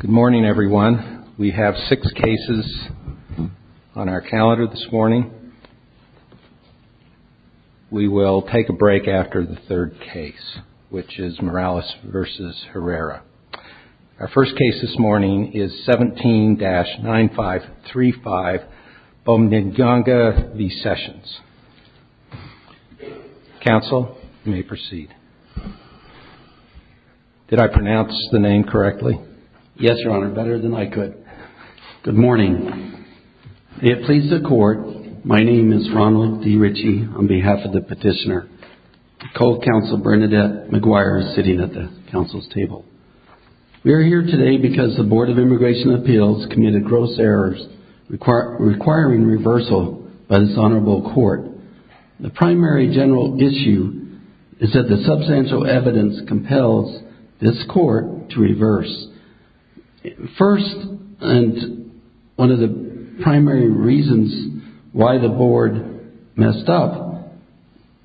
Good morning, everyone. We have six cases on our calendar this morning. We will take a break after the third case, which is Morales v. Herrera. Our first case this morning is Did I pronounce the name correctly? Yes, Your Honor, better than I could. Good morning. May it please the Court, my name is Ronald D. Ritchie on behalf of the Petitioner. Co-Counsel Bernadette McGuire is sitting at the Council's table. We are here today because the Board of Immigration Appeals committed gross errors requiring reversal by this Honorable Court. The primary general issue is that the substantial evidence compels this Court to reverse. First, and one of the primary reasons why the Board messed up,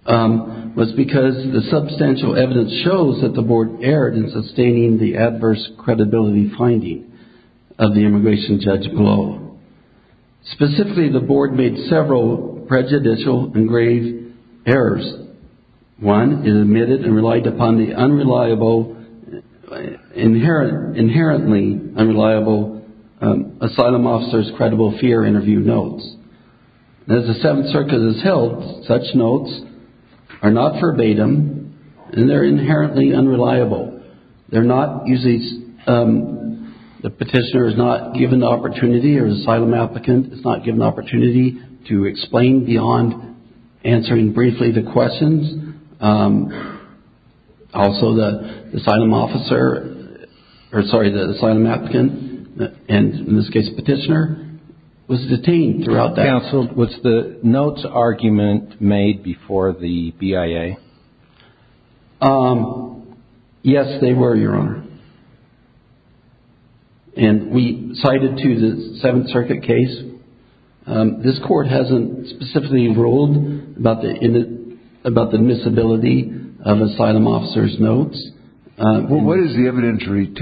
was because the substantial evidence shows that the Board erred in sustaining the adverse credibility finding of the immigration judicial engraved errors. One, it admitted and relied upon the inherently unreliable asylum officer's credible fear interview notes. As the Seventh Circuit has held, such notes are not verbatim and they are inherently unreliable. The Petitioner is not given the opportunity or the asylum applicant is not given the opportunity to explain beyond answering briefly the questions. Also the asylum officer, or sorry, the asylum applicant, and in this case the Petitioner, was detained throughout that. Counsel, was the notes argument made before the BIA? Yes, they were, Your Honor. And we cited to the Seventh Circuit case. This Court hasn't specifically ruled about the admissibility of asylum officer's notes. What is the evidentiary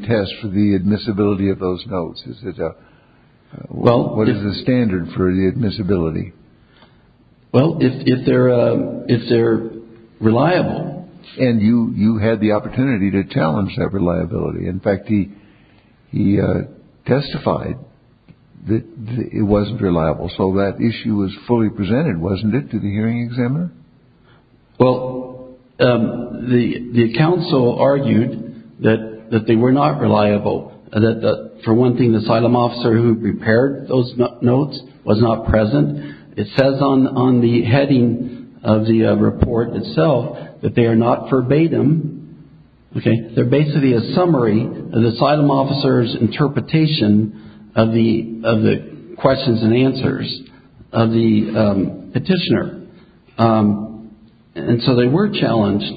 test for the admissibility of those notes? What is the standard for the admissibility? Well, if there were reliable. And you had the opportunity to challenge that reliability. In fact, he testified that it wasn't reliable. So that issue was fully presented, wasn't it, to the hearing examiner? Well, the counsel argued that they were not reliable. For one thing, the asylum officer who prepared those notes was not present. It says on the heading of the report itself that they are not verbatim. They're basically a summary of the asylum officer's interpretation of the questions and answers of the Petitioner. And so they were challenged,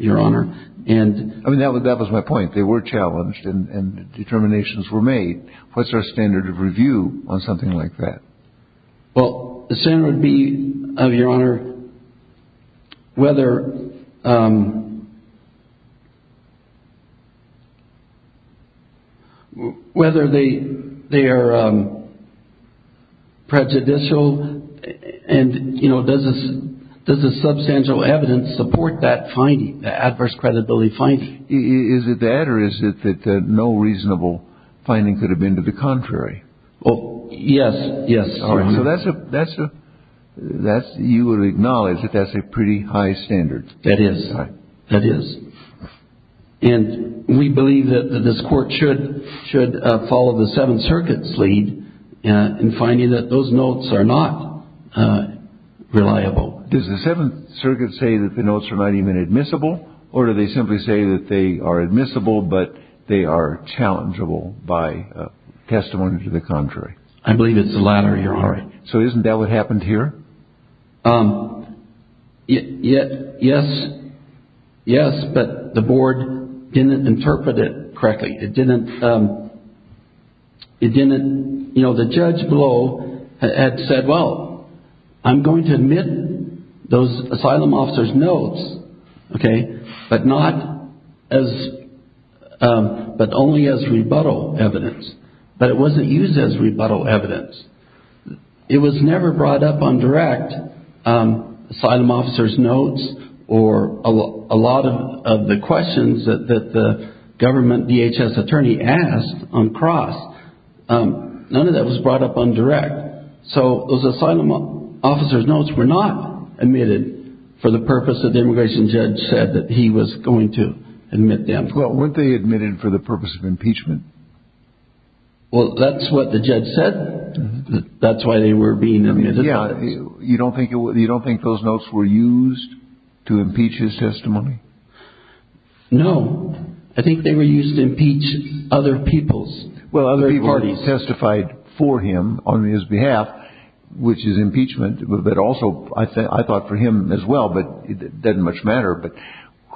Your Honor. I mean, that was my point. They were challenged and determinations were made. What's our standard of review on something like that? Well, the standard would be, Your Honor, whether they are prejudicial. And, you know, does the substantial evidence support that finding, the adverse credibility finding? Is it that or is it that no reasonable finding could have been to the contrary? Well, yes. Yes. All right. So that's a, that's a, you would acknowledge that that's a pretty high standard. That is. That is. And we believe that this Court should, should follow the Seventh Circuit's lead in finding that those notes are not reliable. Does the Seventh Circuit say that the notes are not even admissible? Or do they simply say that they are admissible, but they are challengeable by testimony to the contrary? I believe it's the latter, Your Honor. So isn't that what happened here? Yes. Yes. But the Board didn't interpret it correctly. It didn't, it didn't, you know, the judge below had said, well, I'm going to admit those asylum officers' notes. Okay. And I'm going to say, but not as, but only as rebuttal evidence. But it wasn't used as rebuttal evidence. It was never brought up on direct. Asylum officers' notes or a lot of the questions that the government DHS attorney asked on cross, none of that was brought up on direct. So those asylum officers' notes were not admitted for the purpose that the immigration judge said that he was going to admit them. Well, weren't they admitted for the purpose of impeachment? Well, that's what the judge said. That's why they were being admitted. Yeah. You don't think it was, you don't think those notes were used to impeach his testimony? No. I think they were used to impeach other people's parties. Well, other people testified for him on his behalf, which is impeachment, but also I thought for him as well, but it doesn't much matter, but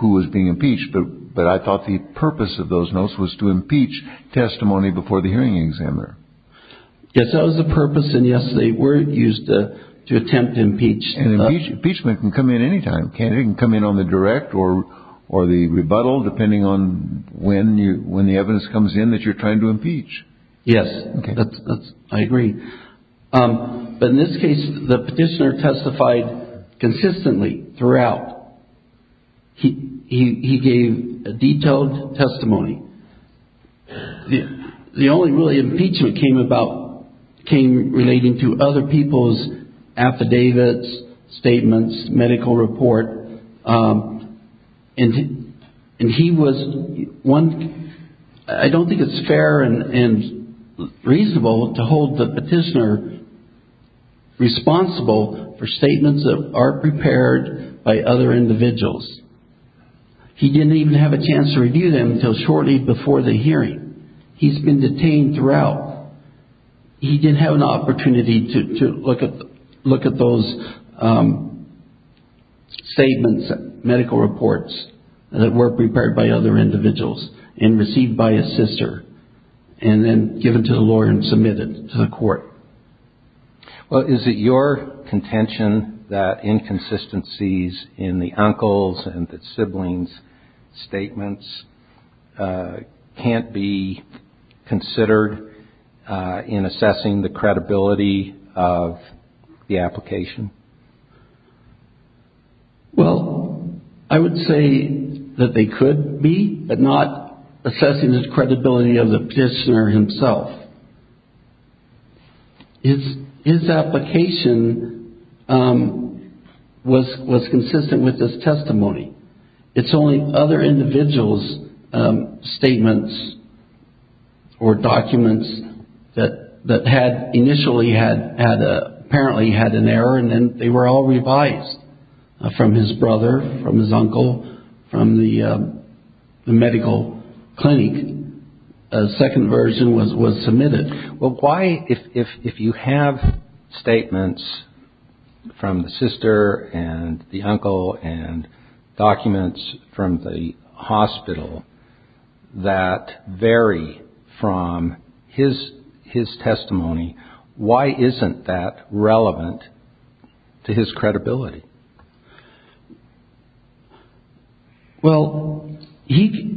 who was being impeached, but I thought the purpose of those notes was to impeach testimony before the hearing examiner. Yes, that was the purpose. And yes, they were used to attempt to impeach. And impeachment can come in any time. It can come in on the direct or the rebuttal, depending on when the evidence comes in that you're trying to impeach. Yes, I agree. But in this case, the petitioner testified consistently throughout. He gave a detailed testimony. The only really impeachment came about, came relating to other people's affidavits, statements, medical report. And he was one, I don't think it's fair and reasonable to hold the petitioner responsible for statements that aren't prepared by other individuals. He didn't even have a chance to review them until shortly before the hearing. He's been detained throughout. He didn't have an opportunity to look at those statements, medical reports that weren't prepared by other individuals and received by his sister and then given to the lawyer and submitted to the court. Well, is it your contention that inconsistencies in the uncle's and the sibling's statements can't be considered in assessing the credibility of the application? Well, I would say that they could be, but not assessing the credibility of the petitioner himself. His application, I don't think it's fair, was consistent with his testimony. It's only other individuals' statements or documents that had initially had, apparently had an error and then they were all revised from his brother, from his uncle, from the medical clinic. A second version was submitted. Well, why if you have statements from the sister and the uncle and documents from the hospital that vary from his testimony, why isn't that relevant to his credibility? Well, the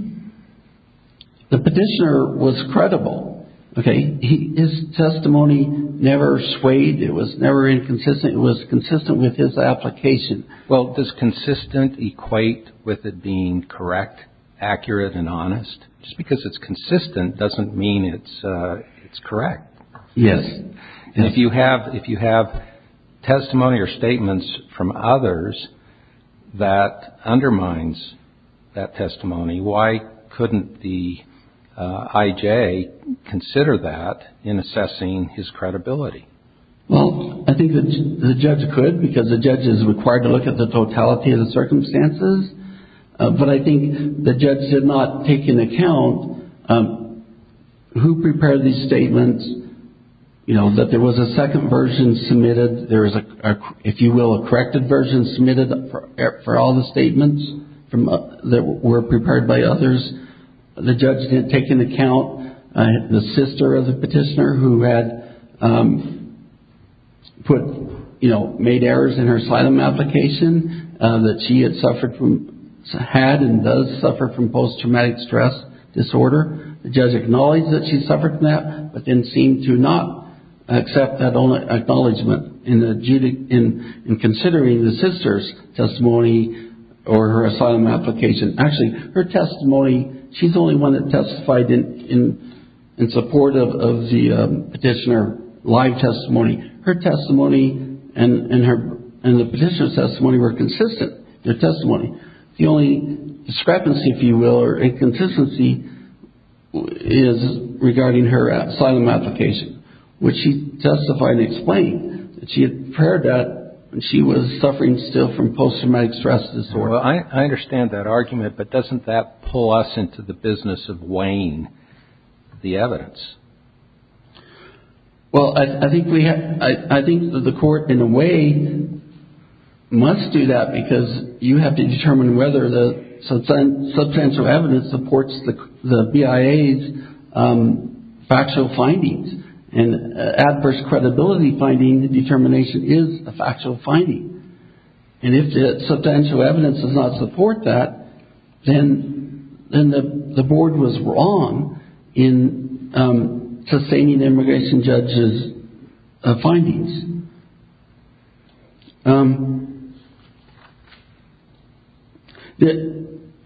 petitioner was credible. Okay. His testimony never swayed. It was never inconsistent. It was consistent with his application. Well, does consistent equate with it being correct, accurate and honest? Just because it's consistent doesn't mean it's correct. Yes. And if you have testimony or statements from others that undermines that testimony, why couldn't the IG or the J consider that in assessing his credibility? Well, I think the judge could because the judge is required to look at the totality of the circumstances, but I think the judge should not take into account who prepared these statements. You know, that there was a second version submitted. There was, if you will, a corrected version submitted for all the statements that were prepared by others. The judge didn't take into account the sister of the petitioner who had put, you know, made errors in her asylum application that she had suffered from, had and does suffer from post-traumatic stress disorder. The judge acknowledged that she suffered from that, but then seemed to not accept that acknowledgement in considering the sister's testimony or her asylum application. Actually, her testimony, she's the only one that testified in support of the petitioner's live testimony. Her testimony and the petitioner's testimony were consistent, their testimony. The only discrepancy, if you will, or inconsistency is regarding her asylum application, which she testified and she had prepared that she was suffering still from post-traumatic stress disorder. I understand that argument, but doesn't that pull us into the business of weighing the evidence? Well, I think we have, I think the court in a way must do that because you have to determine whether the substantial evidence supports the BIA's factual findings and adverse credibility finding, the determination is a factual finding. And if the substantial evidence does not support that, then the board was wrong in sustaining the immigration judge's findings.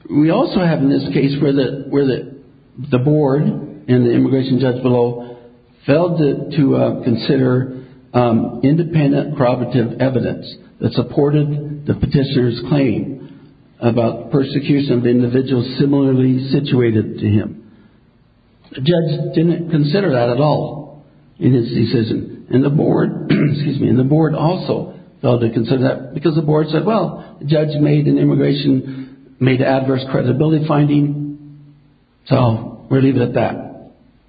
We also have in this case where the board and the immigration judge below failed to consider independent probative evidence that supported the petitioner's claim about persecution of individuals similarly situated to him. The judge didn't consider that at all in his decision. And the board also failed to consider that because the board said, well, the judge made an immigration, made an adverse credibility finding, so we'll leave it at that.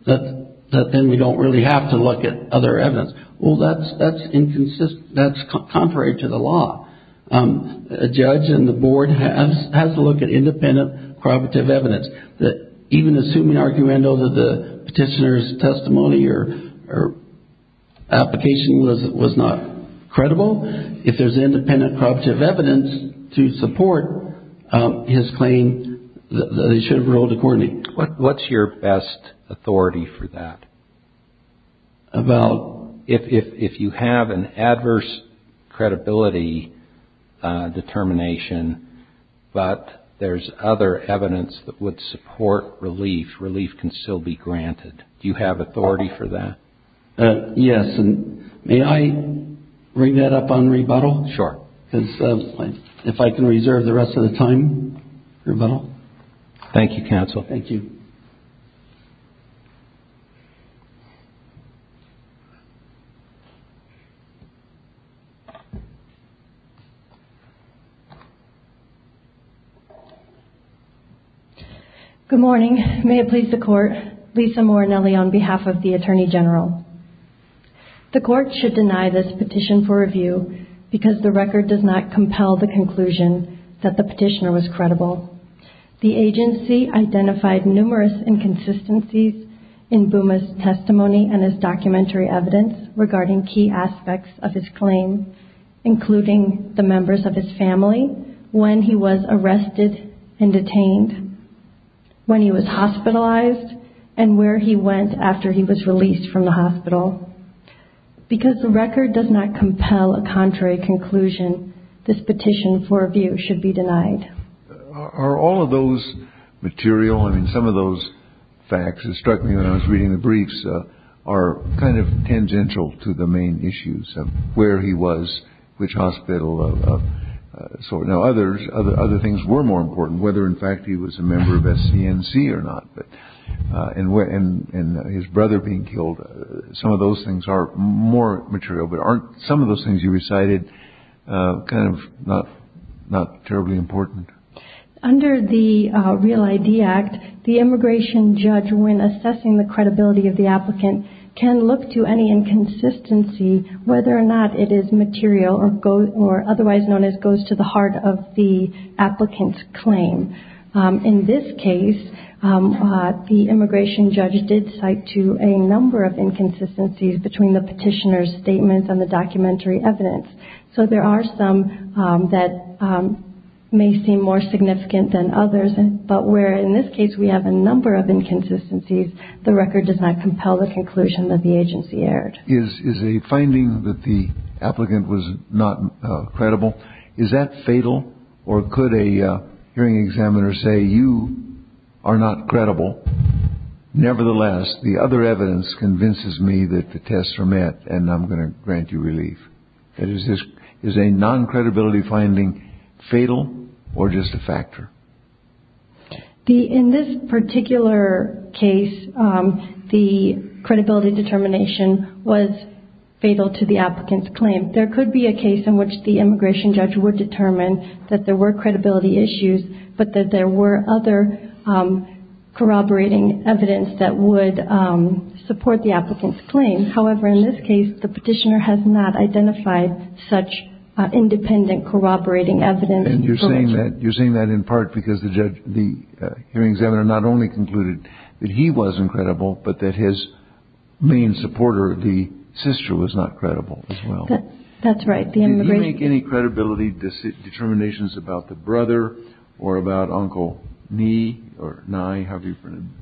That then we don't really have to look at other evidence. Well, that's inconsistent. That's contrary to the law. A judge and the board has to look at independent probative evidence that even assuming argument over the petitioner's testimony or application was not credible, if there's independent probative evidence to support his claim, they should have ruled accordingly. What's your best authority for that? About? If you have an adverse credibility determination, but there's other evidence that would support relief, relief can still be granted. Do you have authority for that? Yes. May I bring that up on rebuttal? Sure. Because if I can see you. Good morning. May it please the court. Lisa Morinelli on behalf of the Attorney General. The court should deny this petition for review because the record does not compel the conclusion that the petitioner was credible. The agency identified numerous inconsistencies in Buma's testimony and his documentary evidence regarding key aspects of his claim, including the members of his family, when he was arrested and detained, when he was hospitalized, and where he went after he was released from the hospital. Because the record does not compel a contrary conclusion, this petition for review should be denied. Are all of those material? I mean, some of those facts that struck me when I was reading the briefs are kind of tangential to the main issues of where he was, which hospital. So now others, other things were more important, whether, in fact, he was a member of SCNC or not, and his brother being killed. Some of those things are more material, but aren't some of those things you recited kind of not terribly important? Under the Real ID Act, the immigration judge when assessing the credibility of the applicant can look to any inconsistency, whether or not it is material or otherwise known as goes to the heart of the applicant's claim. In this case, the immigration judge did cite to a number of inconsistencies between the petitioner's statement and the documentary evidence. So there are some that may seem more significant than others, but where in this case we have a number of inconsistencies, the record does not compel the conclusion that the agency aired. Is a finding that the are not credible. Nevertheless, the other evidence convinces me that the tests are met, and I'm going to grant you relief. Is a non-credibility finding fatal or just a factor? In this particular case, the credibility determination was fatal to the applicant's claim. There could be a case in which the immigration judge would determine that there were credibility issues, but that there were other corroborating evidence that would support the applicant's claim. However, in this case, the petitioner has not identified such independent corroborating evidence. And you're saying that in part because the hearing examiner not only concluded that he wasn't credible, but that his main supporter, the sister, was not credible as well. That's right. Did you make any credibility determinations about the brother or about Uncle Nye,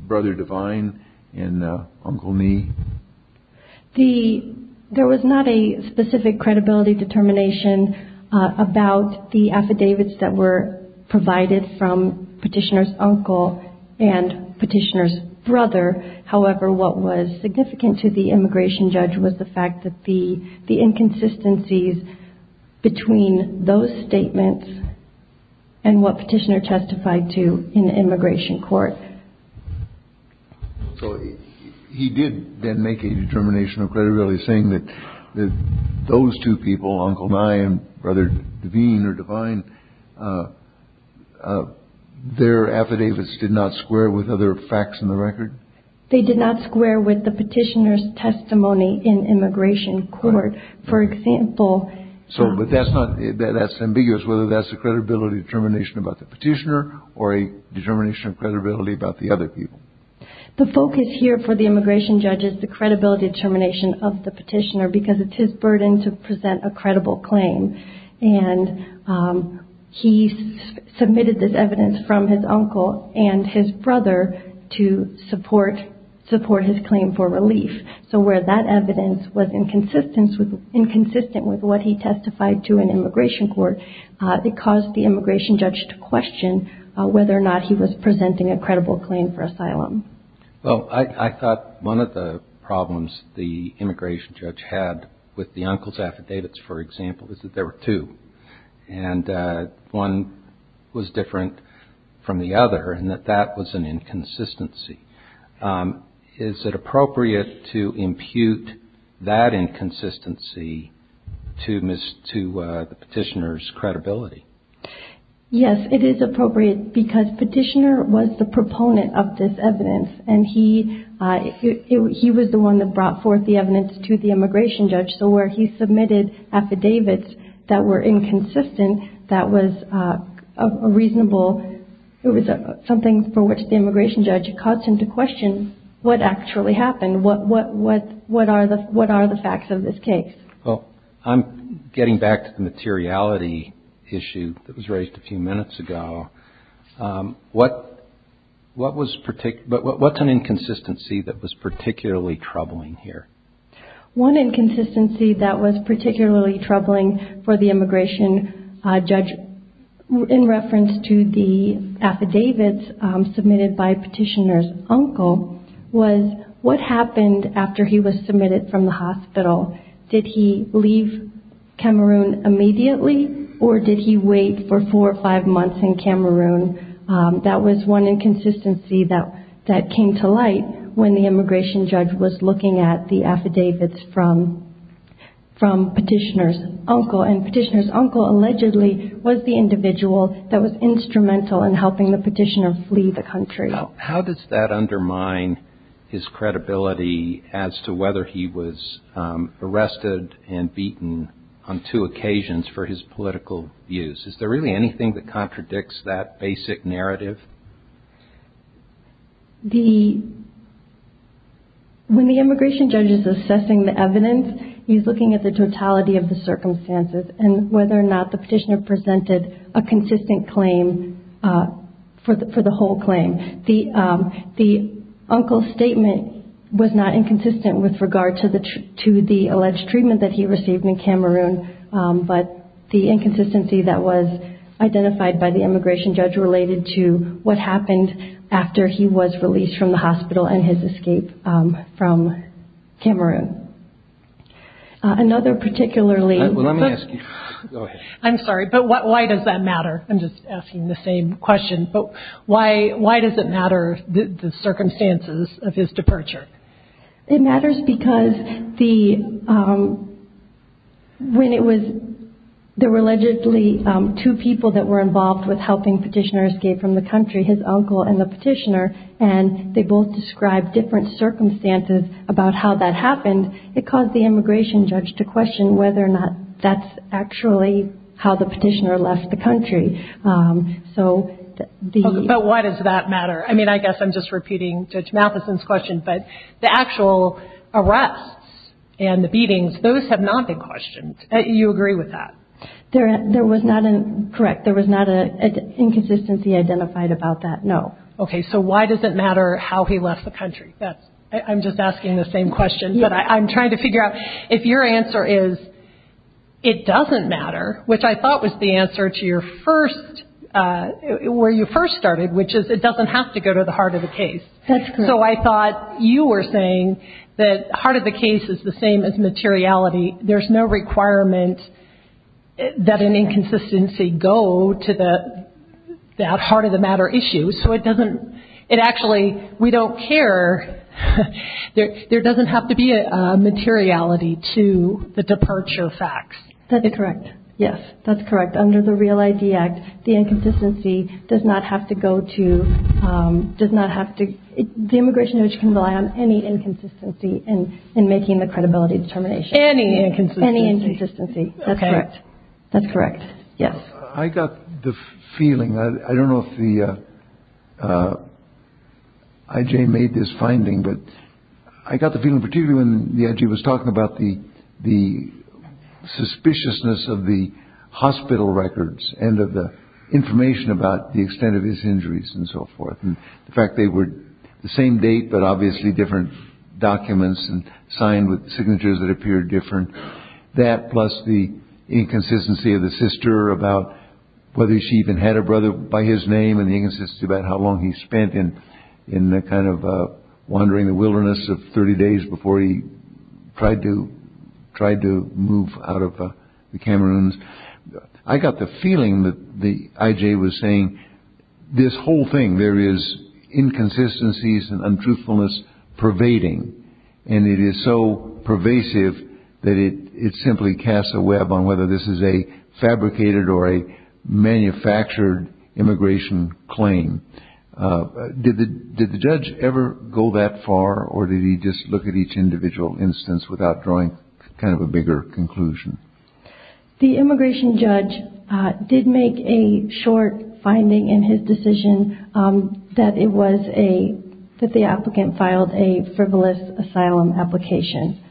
Brother Divine and Uncle Nye? There was not a specific credibility determination about the affidavits that were provided from Petitioner's uncle and Petitioner's brother. However, what was between those statements and what Petitioner testified to in the immigration court? So he did then make a determination of credibility saying that those two people, Uncle Nye and Brother Divine or Divine, their affidavits did not square with other facts in the record? They did not square with the Petitioner's testimony in immigration court. For example... So that's ambiguous whether that's a credibility determination about the Petitioner or a determination of credibility about the other people. The focus here for the immigration judge is the credibility determination of the Petitioner because it's his burden to present a credible claim. And he submitted this evidence from his uncle and his brother to support the claim for relief. So where that evidence was inconsistent with what he testified to in immigration court, it caused the immigration judge to question whether or not he was presenting a credible claim for asylum. Well, I thought one of the problems the immigration judge had with the uncle's affidavits, for example, is that there were two. And one was different from the other and that that was an inconsistency. Is it appropriate to impute that inconsistency to the Petitioner's credibility? Yes, it is appropriate because Petitioner was the proponent of this evidence. And he was the one that brought forth the evidence to the immigration judge. So where he submitted affidavits that were inconsistent, that was a reasonable, it was something for which the immigration judge caused him to question what actually happened. What are the facts of this case? Well, I'm getting back to the materiality issue that was raised a few minutes ago. What's an inconsistency that was particularly troubling here? One inconsistency that was particularly troubling for the immigration judge in reference to the affidavits submitted by Petitioner's uncle was what happened after he was submitted from the hospital? Did he leave Cameroon immediately or did he wait for four or five months in Cameroon? That was one inconsistency that came to light when the immigration judge was looking at the affidavits from Petitioner's uncle. And Petitioner's uncle allegedly was the individual that was instrumental in helping the Petitioner flee the country. How does that undermine his credibility as to whether he was arrested and beaten on two occasions for his political views? Is there really anything that contradicts that basic narrative? When the immigration judge is assessing the evidence, he's looking at the totality of the circumstances and whether or not the Petitioner presented a consistent claim for the whole claim. The uncle's statement was not inconsistent with regard to the alleged treatment that he received in Cameroon, but the inconsistency that was identified by the immigration judge related to what happened after he was released from the hospital and his escape from Cameroon. I'm sorry, but why does that matter? I'm just asking the same question. Why does it matter the circumstances of his departure? It matters because there were allegedly two people that were involved with helping Petitioner escape from the country, his uncle and the Petitioner, and they both described different circumstances about how that happened. It caused the immigration judge to question whether or not that's actually how the Petitioner left the country. But why does that matter? I mean, I guess I'm just repeating Judge Matheson's question, but the actual arrests and the beatings, those have not been questioned. You agree with that? There was not a, correct, there was not an inconsistency identified about that, no. Okay, so why does it matter how he left the country? I'm just asking the same question, but I'm trying to figure out if your answer is it doesn't matter, which I thought was the answer to your first, where you first started, which is it doesn't have to go to the heart of the case. That's correct. So I thought you were saying that the heart of the case is the same as materiality. There's no requirement that an inconsistency go to that heart-of-the-matter issue, so it doesn't, it actually, we don't care. There doesn't have to be a materiality to the departure facts. That's correct. Yes, that's correct. Under the REAL-ID Act, the inconsistency does not have to go to, does not have to, the immigration judge can rely on any inconsistency in making the credibility determination. Any inconsistency. Any inconsistency. That's correct. That's correct. Yes. I got the feeling, I don't know if the IJ made this finding, but I got the feeling particularly when the IJ was talking about the suspiciousness of the hospital records and of the information about the extent of his injuries and so forth, and the fact they were the same date but obviously different documents and signed with signatures that appeared different. That plus the inconsistency of the sister about whether she even had a brother by his name and the inconsistency about how long he spent in the kind of wandering the wilderness of 30 days before he tried to move out of the Cameroons. I got the feeling that the IJ was saying, this whole thing, there is inconsistencies and untruthfulness pervading and it is so pervasive that it simply casts a web on whether this is a fabricated or a manufactured immigration claim. Did the judge ever go that far or did he just look at each individual instance without drawing kind of a bigger conclusion? The immigration judge did make a short finding in his decision that it was a, that the applicant filed a frivolous asylum application.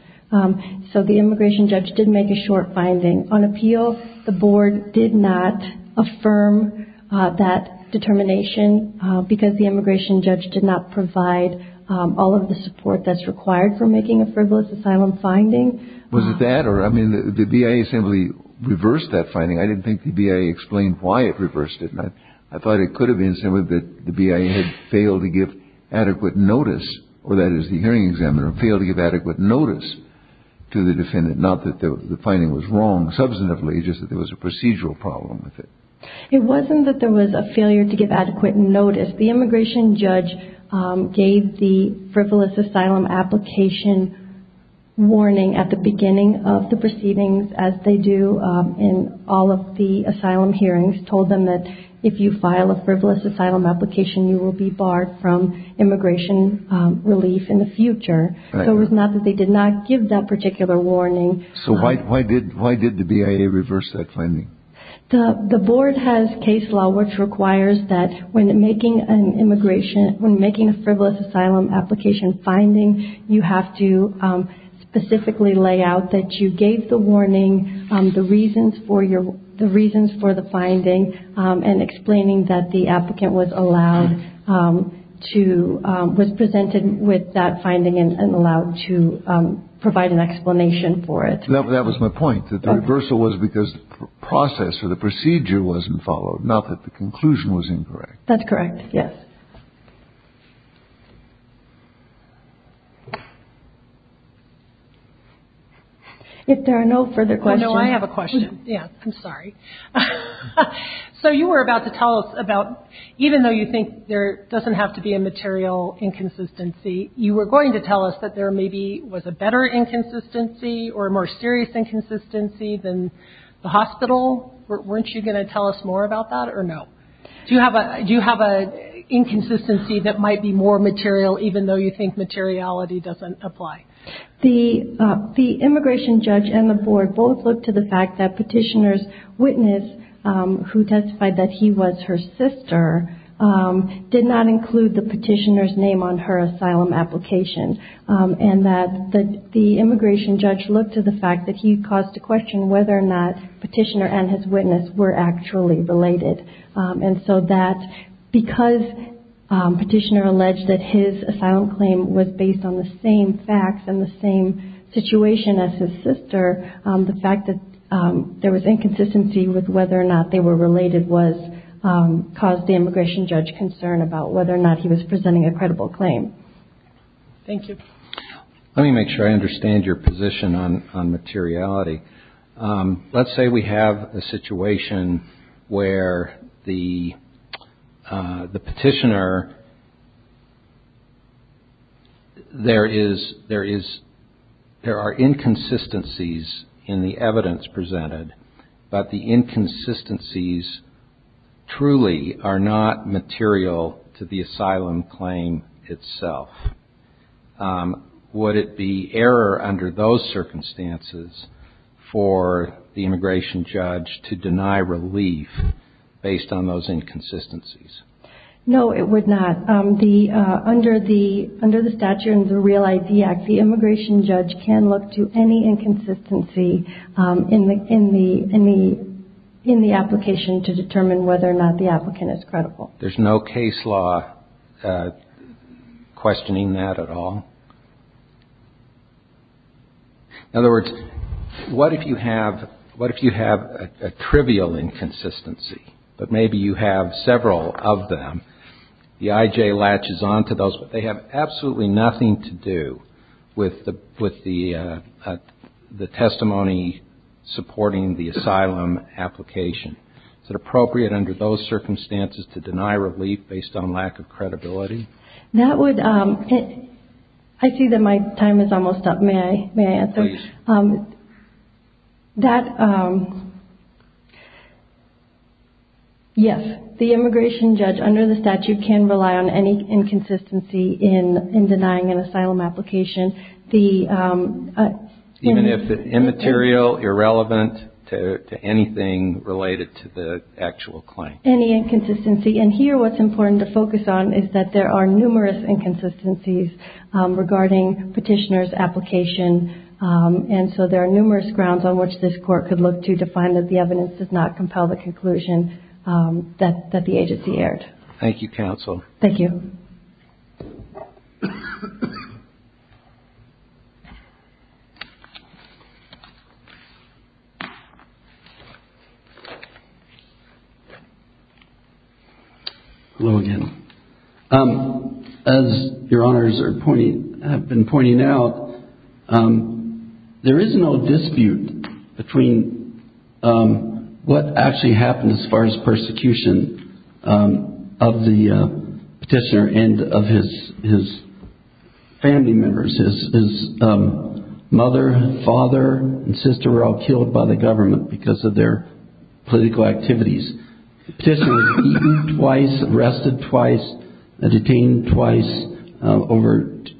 So the immigration judge did make a short finding. On appeal, the board did not affirm that determination because the immigration judge did not provide all of the support that is required for making a frivolous asylum finding. Was it that or, I mean, the BIA assembly reversed that finding. I didn't think the BIA explained why it reversed it. I thought it could have been that the BIA had failed to give adequate notice, or that is the hearing examiner, failed to give adequate notice to the defendant. Not that the finding was wrong substantively, it's just that there was a procedural problem with it. It wasn't that there was a failure to give adequate notice. The immigration judge gave the frivolous asylum application warning at the beginning of the proceedings as they do in all of the asylum hearings, told them that if you file a frivolous asylum application, you will be barred from immigration relief in the future. So it was not that they did not give that particular warning. So why did the BIA reverse that finding? The board has case law which requires that when making an immigration, when making a frivolous asylum application finding, you have to specifically lay out that you gave the warning, the reasons for the finding, and explaining that the applicant was allowed to, was presented with that finding and allowed to provide an explanation for it. That was my point, that the reversal was because the process or the procedure wasn't followed, not that the conclusion was incorrect. That's correct, yes. If there are no further questions... Oh, no, I have a question. Yes. I'm sorry. So you were about to tell us about, even though you think there doesn't have to be a material inconsistency, you were going to tell us that there maybe was a better inconsistency or a more serious inconsistency than the hospital. Weren't you going to tell us more about that or no? Do you have an inconsistency that might be more material even though you think materiality doesn't apply? The immigration judge and the board both looked to the fact that petitioner's witness, who testified that he was her sister, did not include the petitioner's name on her asylum application and that the immigration judge looked to the fact that he caused a question whether or not petitioner and his witness were actually related. And so that, because petitioner alleged that his asylum claim was based on the same facts and the same situation as his sister, the fact that there was inconsistency with whether or not they were related caused the immigration judge concern about whether or not he was related. Thank you. Let me make sure I understand your position on materiality. Let's say we have a situation where the petitioner, there are inconsistencies in the evidence itself. Would it be error under those circumstances for the immigration judge to deny relief based on those inconsistencies? No, it would not. Under the statute and the Real ID Act, the immigration judge can look to any inconsistency in the application to determine whether or not the applicant is credible. There's no case law questioning that at all. In other words, what if you have a trivial inconsistency, but maybe you have several of them, the IJ latches onto those, but they have absolutely nothing to do with the testimony supporting the asylum application. Is it appropriate under those circumstances to deny relief based on lack of credibility? That would, I see that my time is almost up, may I answer? Yes, the immigration judge under the statute can rely on any inconsistency in denying an asylum application. Even if it's immaterial, irrelevant to anything related to the actual claim? Any inconsistency. Here, what's important to focus on is that there are numerous inconsistencies regarding petitioner's application, and so there are numerous grounds on which this court could look to to find that the evidence does not compel the conclusion that the agency aired. Thank you, counsel. Thank you. Hello again. As your honors have been pointing out, there is no dispute between what actually happened as far as persecution of the petitioner and of his family members. His mother, father, and sister were all killed by the government because of their political activities. The petitioner was beaten twice, arrested twice, and detained twice,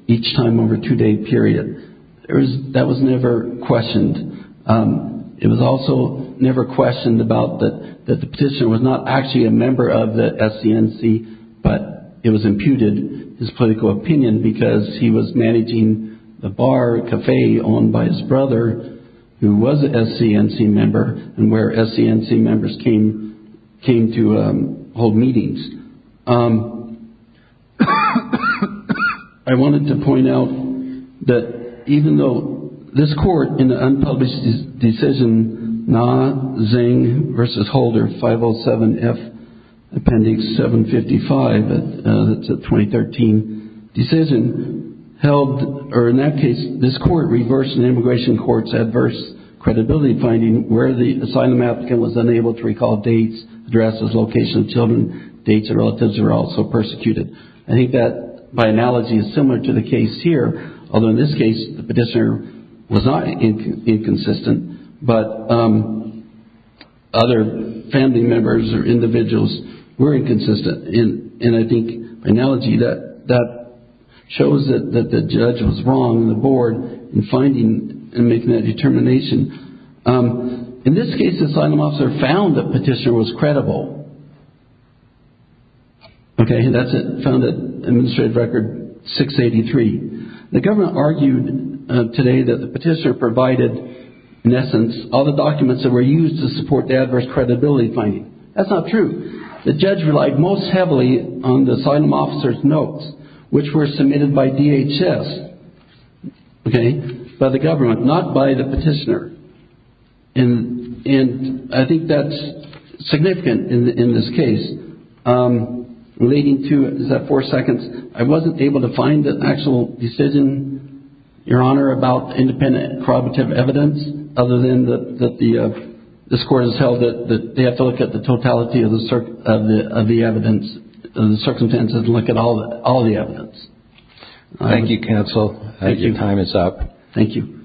each time over a two-day period. That was never questioned. It was also never questioned about that the petitioner was not actually a member of the SCNC, but it was imputed, his political opinion, because he was managing the bar, cafe, owned by his brother, who was a SCNC member, and where SCNC members came to hold meetings. I wanted to point out that even though this court, in the unpublished decision, Nah, Zingg v. Holder, 507F Appendix 755, that's a 2013 decision, held, or in that case, this court reversed the Immigration Court's adverse credibility finding where the asylum applicant was unable to recall dates, addresses, locations of children, dates of relatives who were also persecuted. I think that, by analogy, is similar to the case here, although in this case, the petitioner was not inconsistent, but other family members or individuals were inconsistent. I think, by analogy, that shows that the judge was wrong on the board in finding and making that determination. In this case, the asylum officer found that the petitioner was credible, and that's found in Administrative Record 683. The government argued today that the petitioner provided, in essence, all the documents that were used to support the adverse credibility finding. That's not true. The judge relied most heavily on the asylum officer's notes, which were submitted by DHS, by the government, not by the petitioner. I think that's significant in this case. Leading to, is that four seconds? I wasn't able to find an actual decision, Your Honor, about independent and corroborative evidence, other than that this court has held that they have to look at the totality of the evidence, the circumstances, and look at all the evidence. Thank you, counsel. Thank you. Your time is up. Thank you.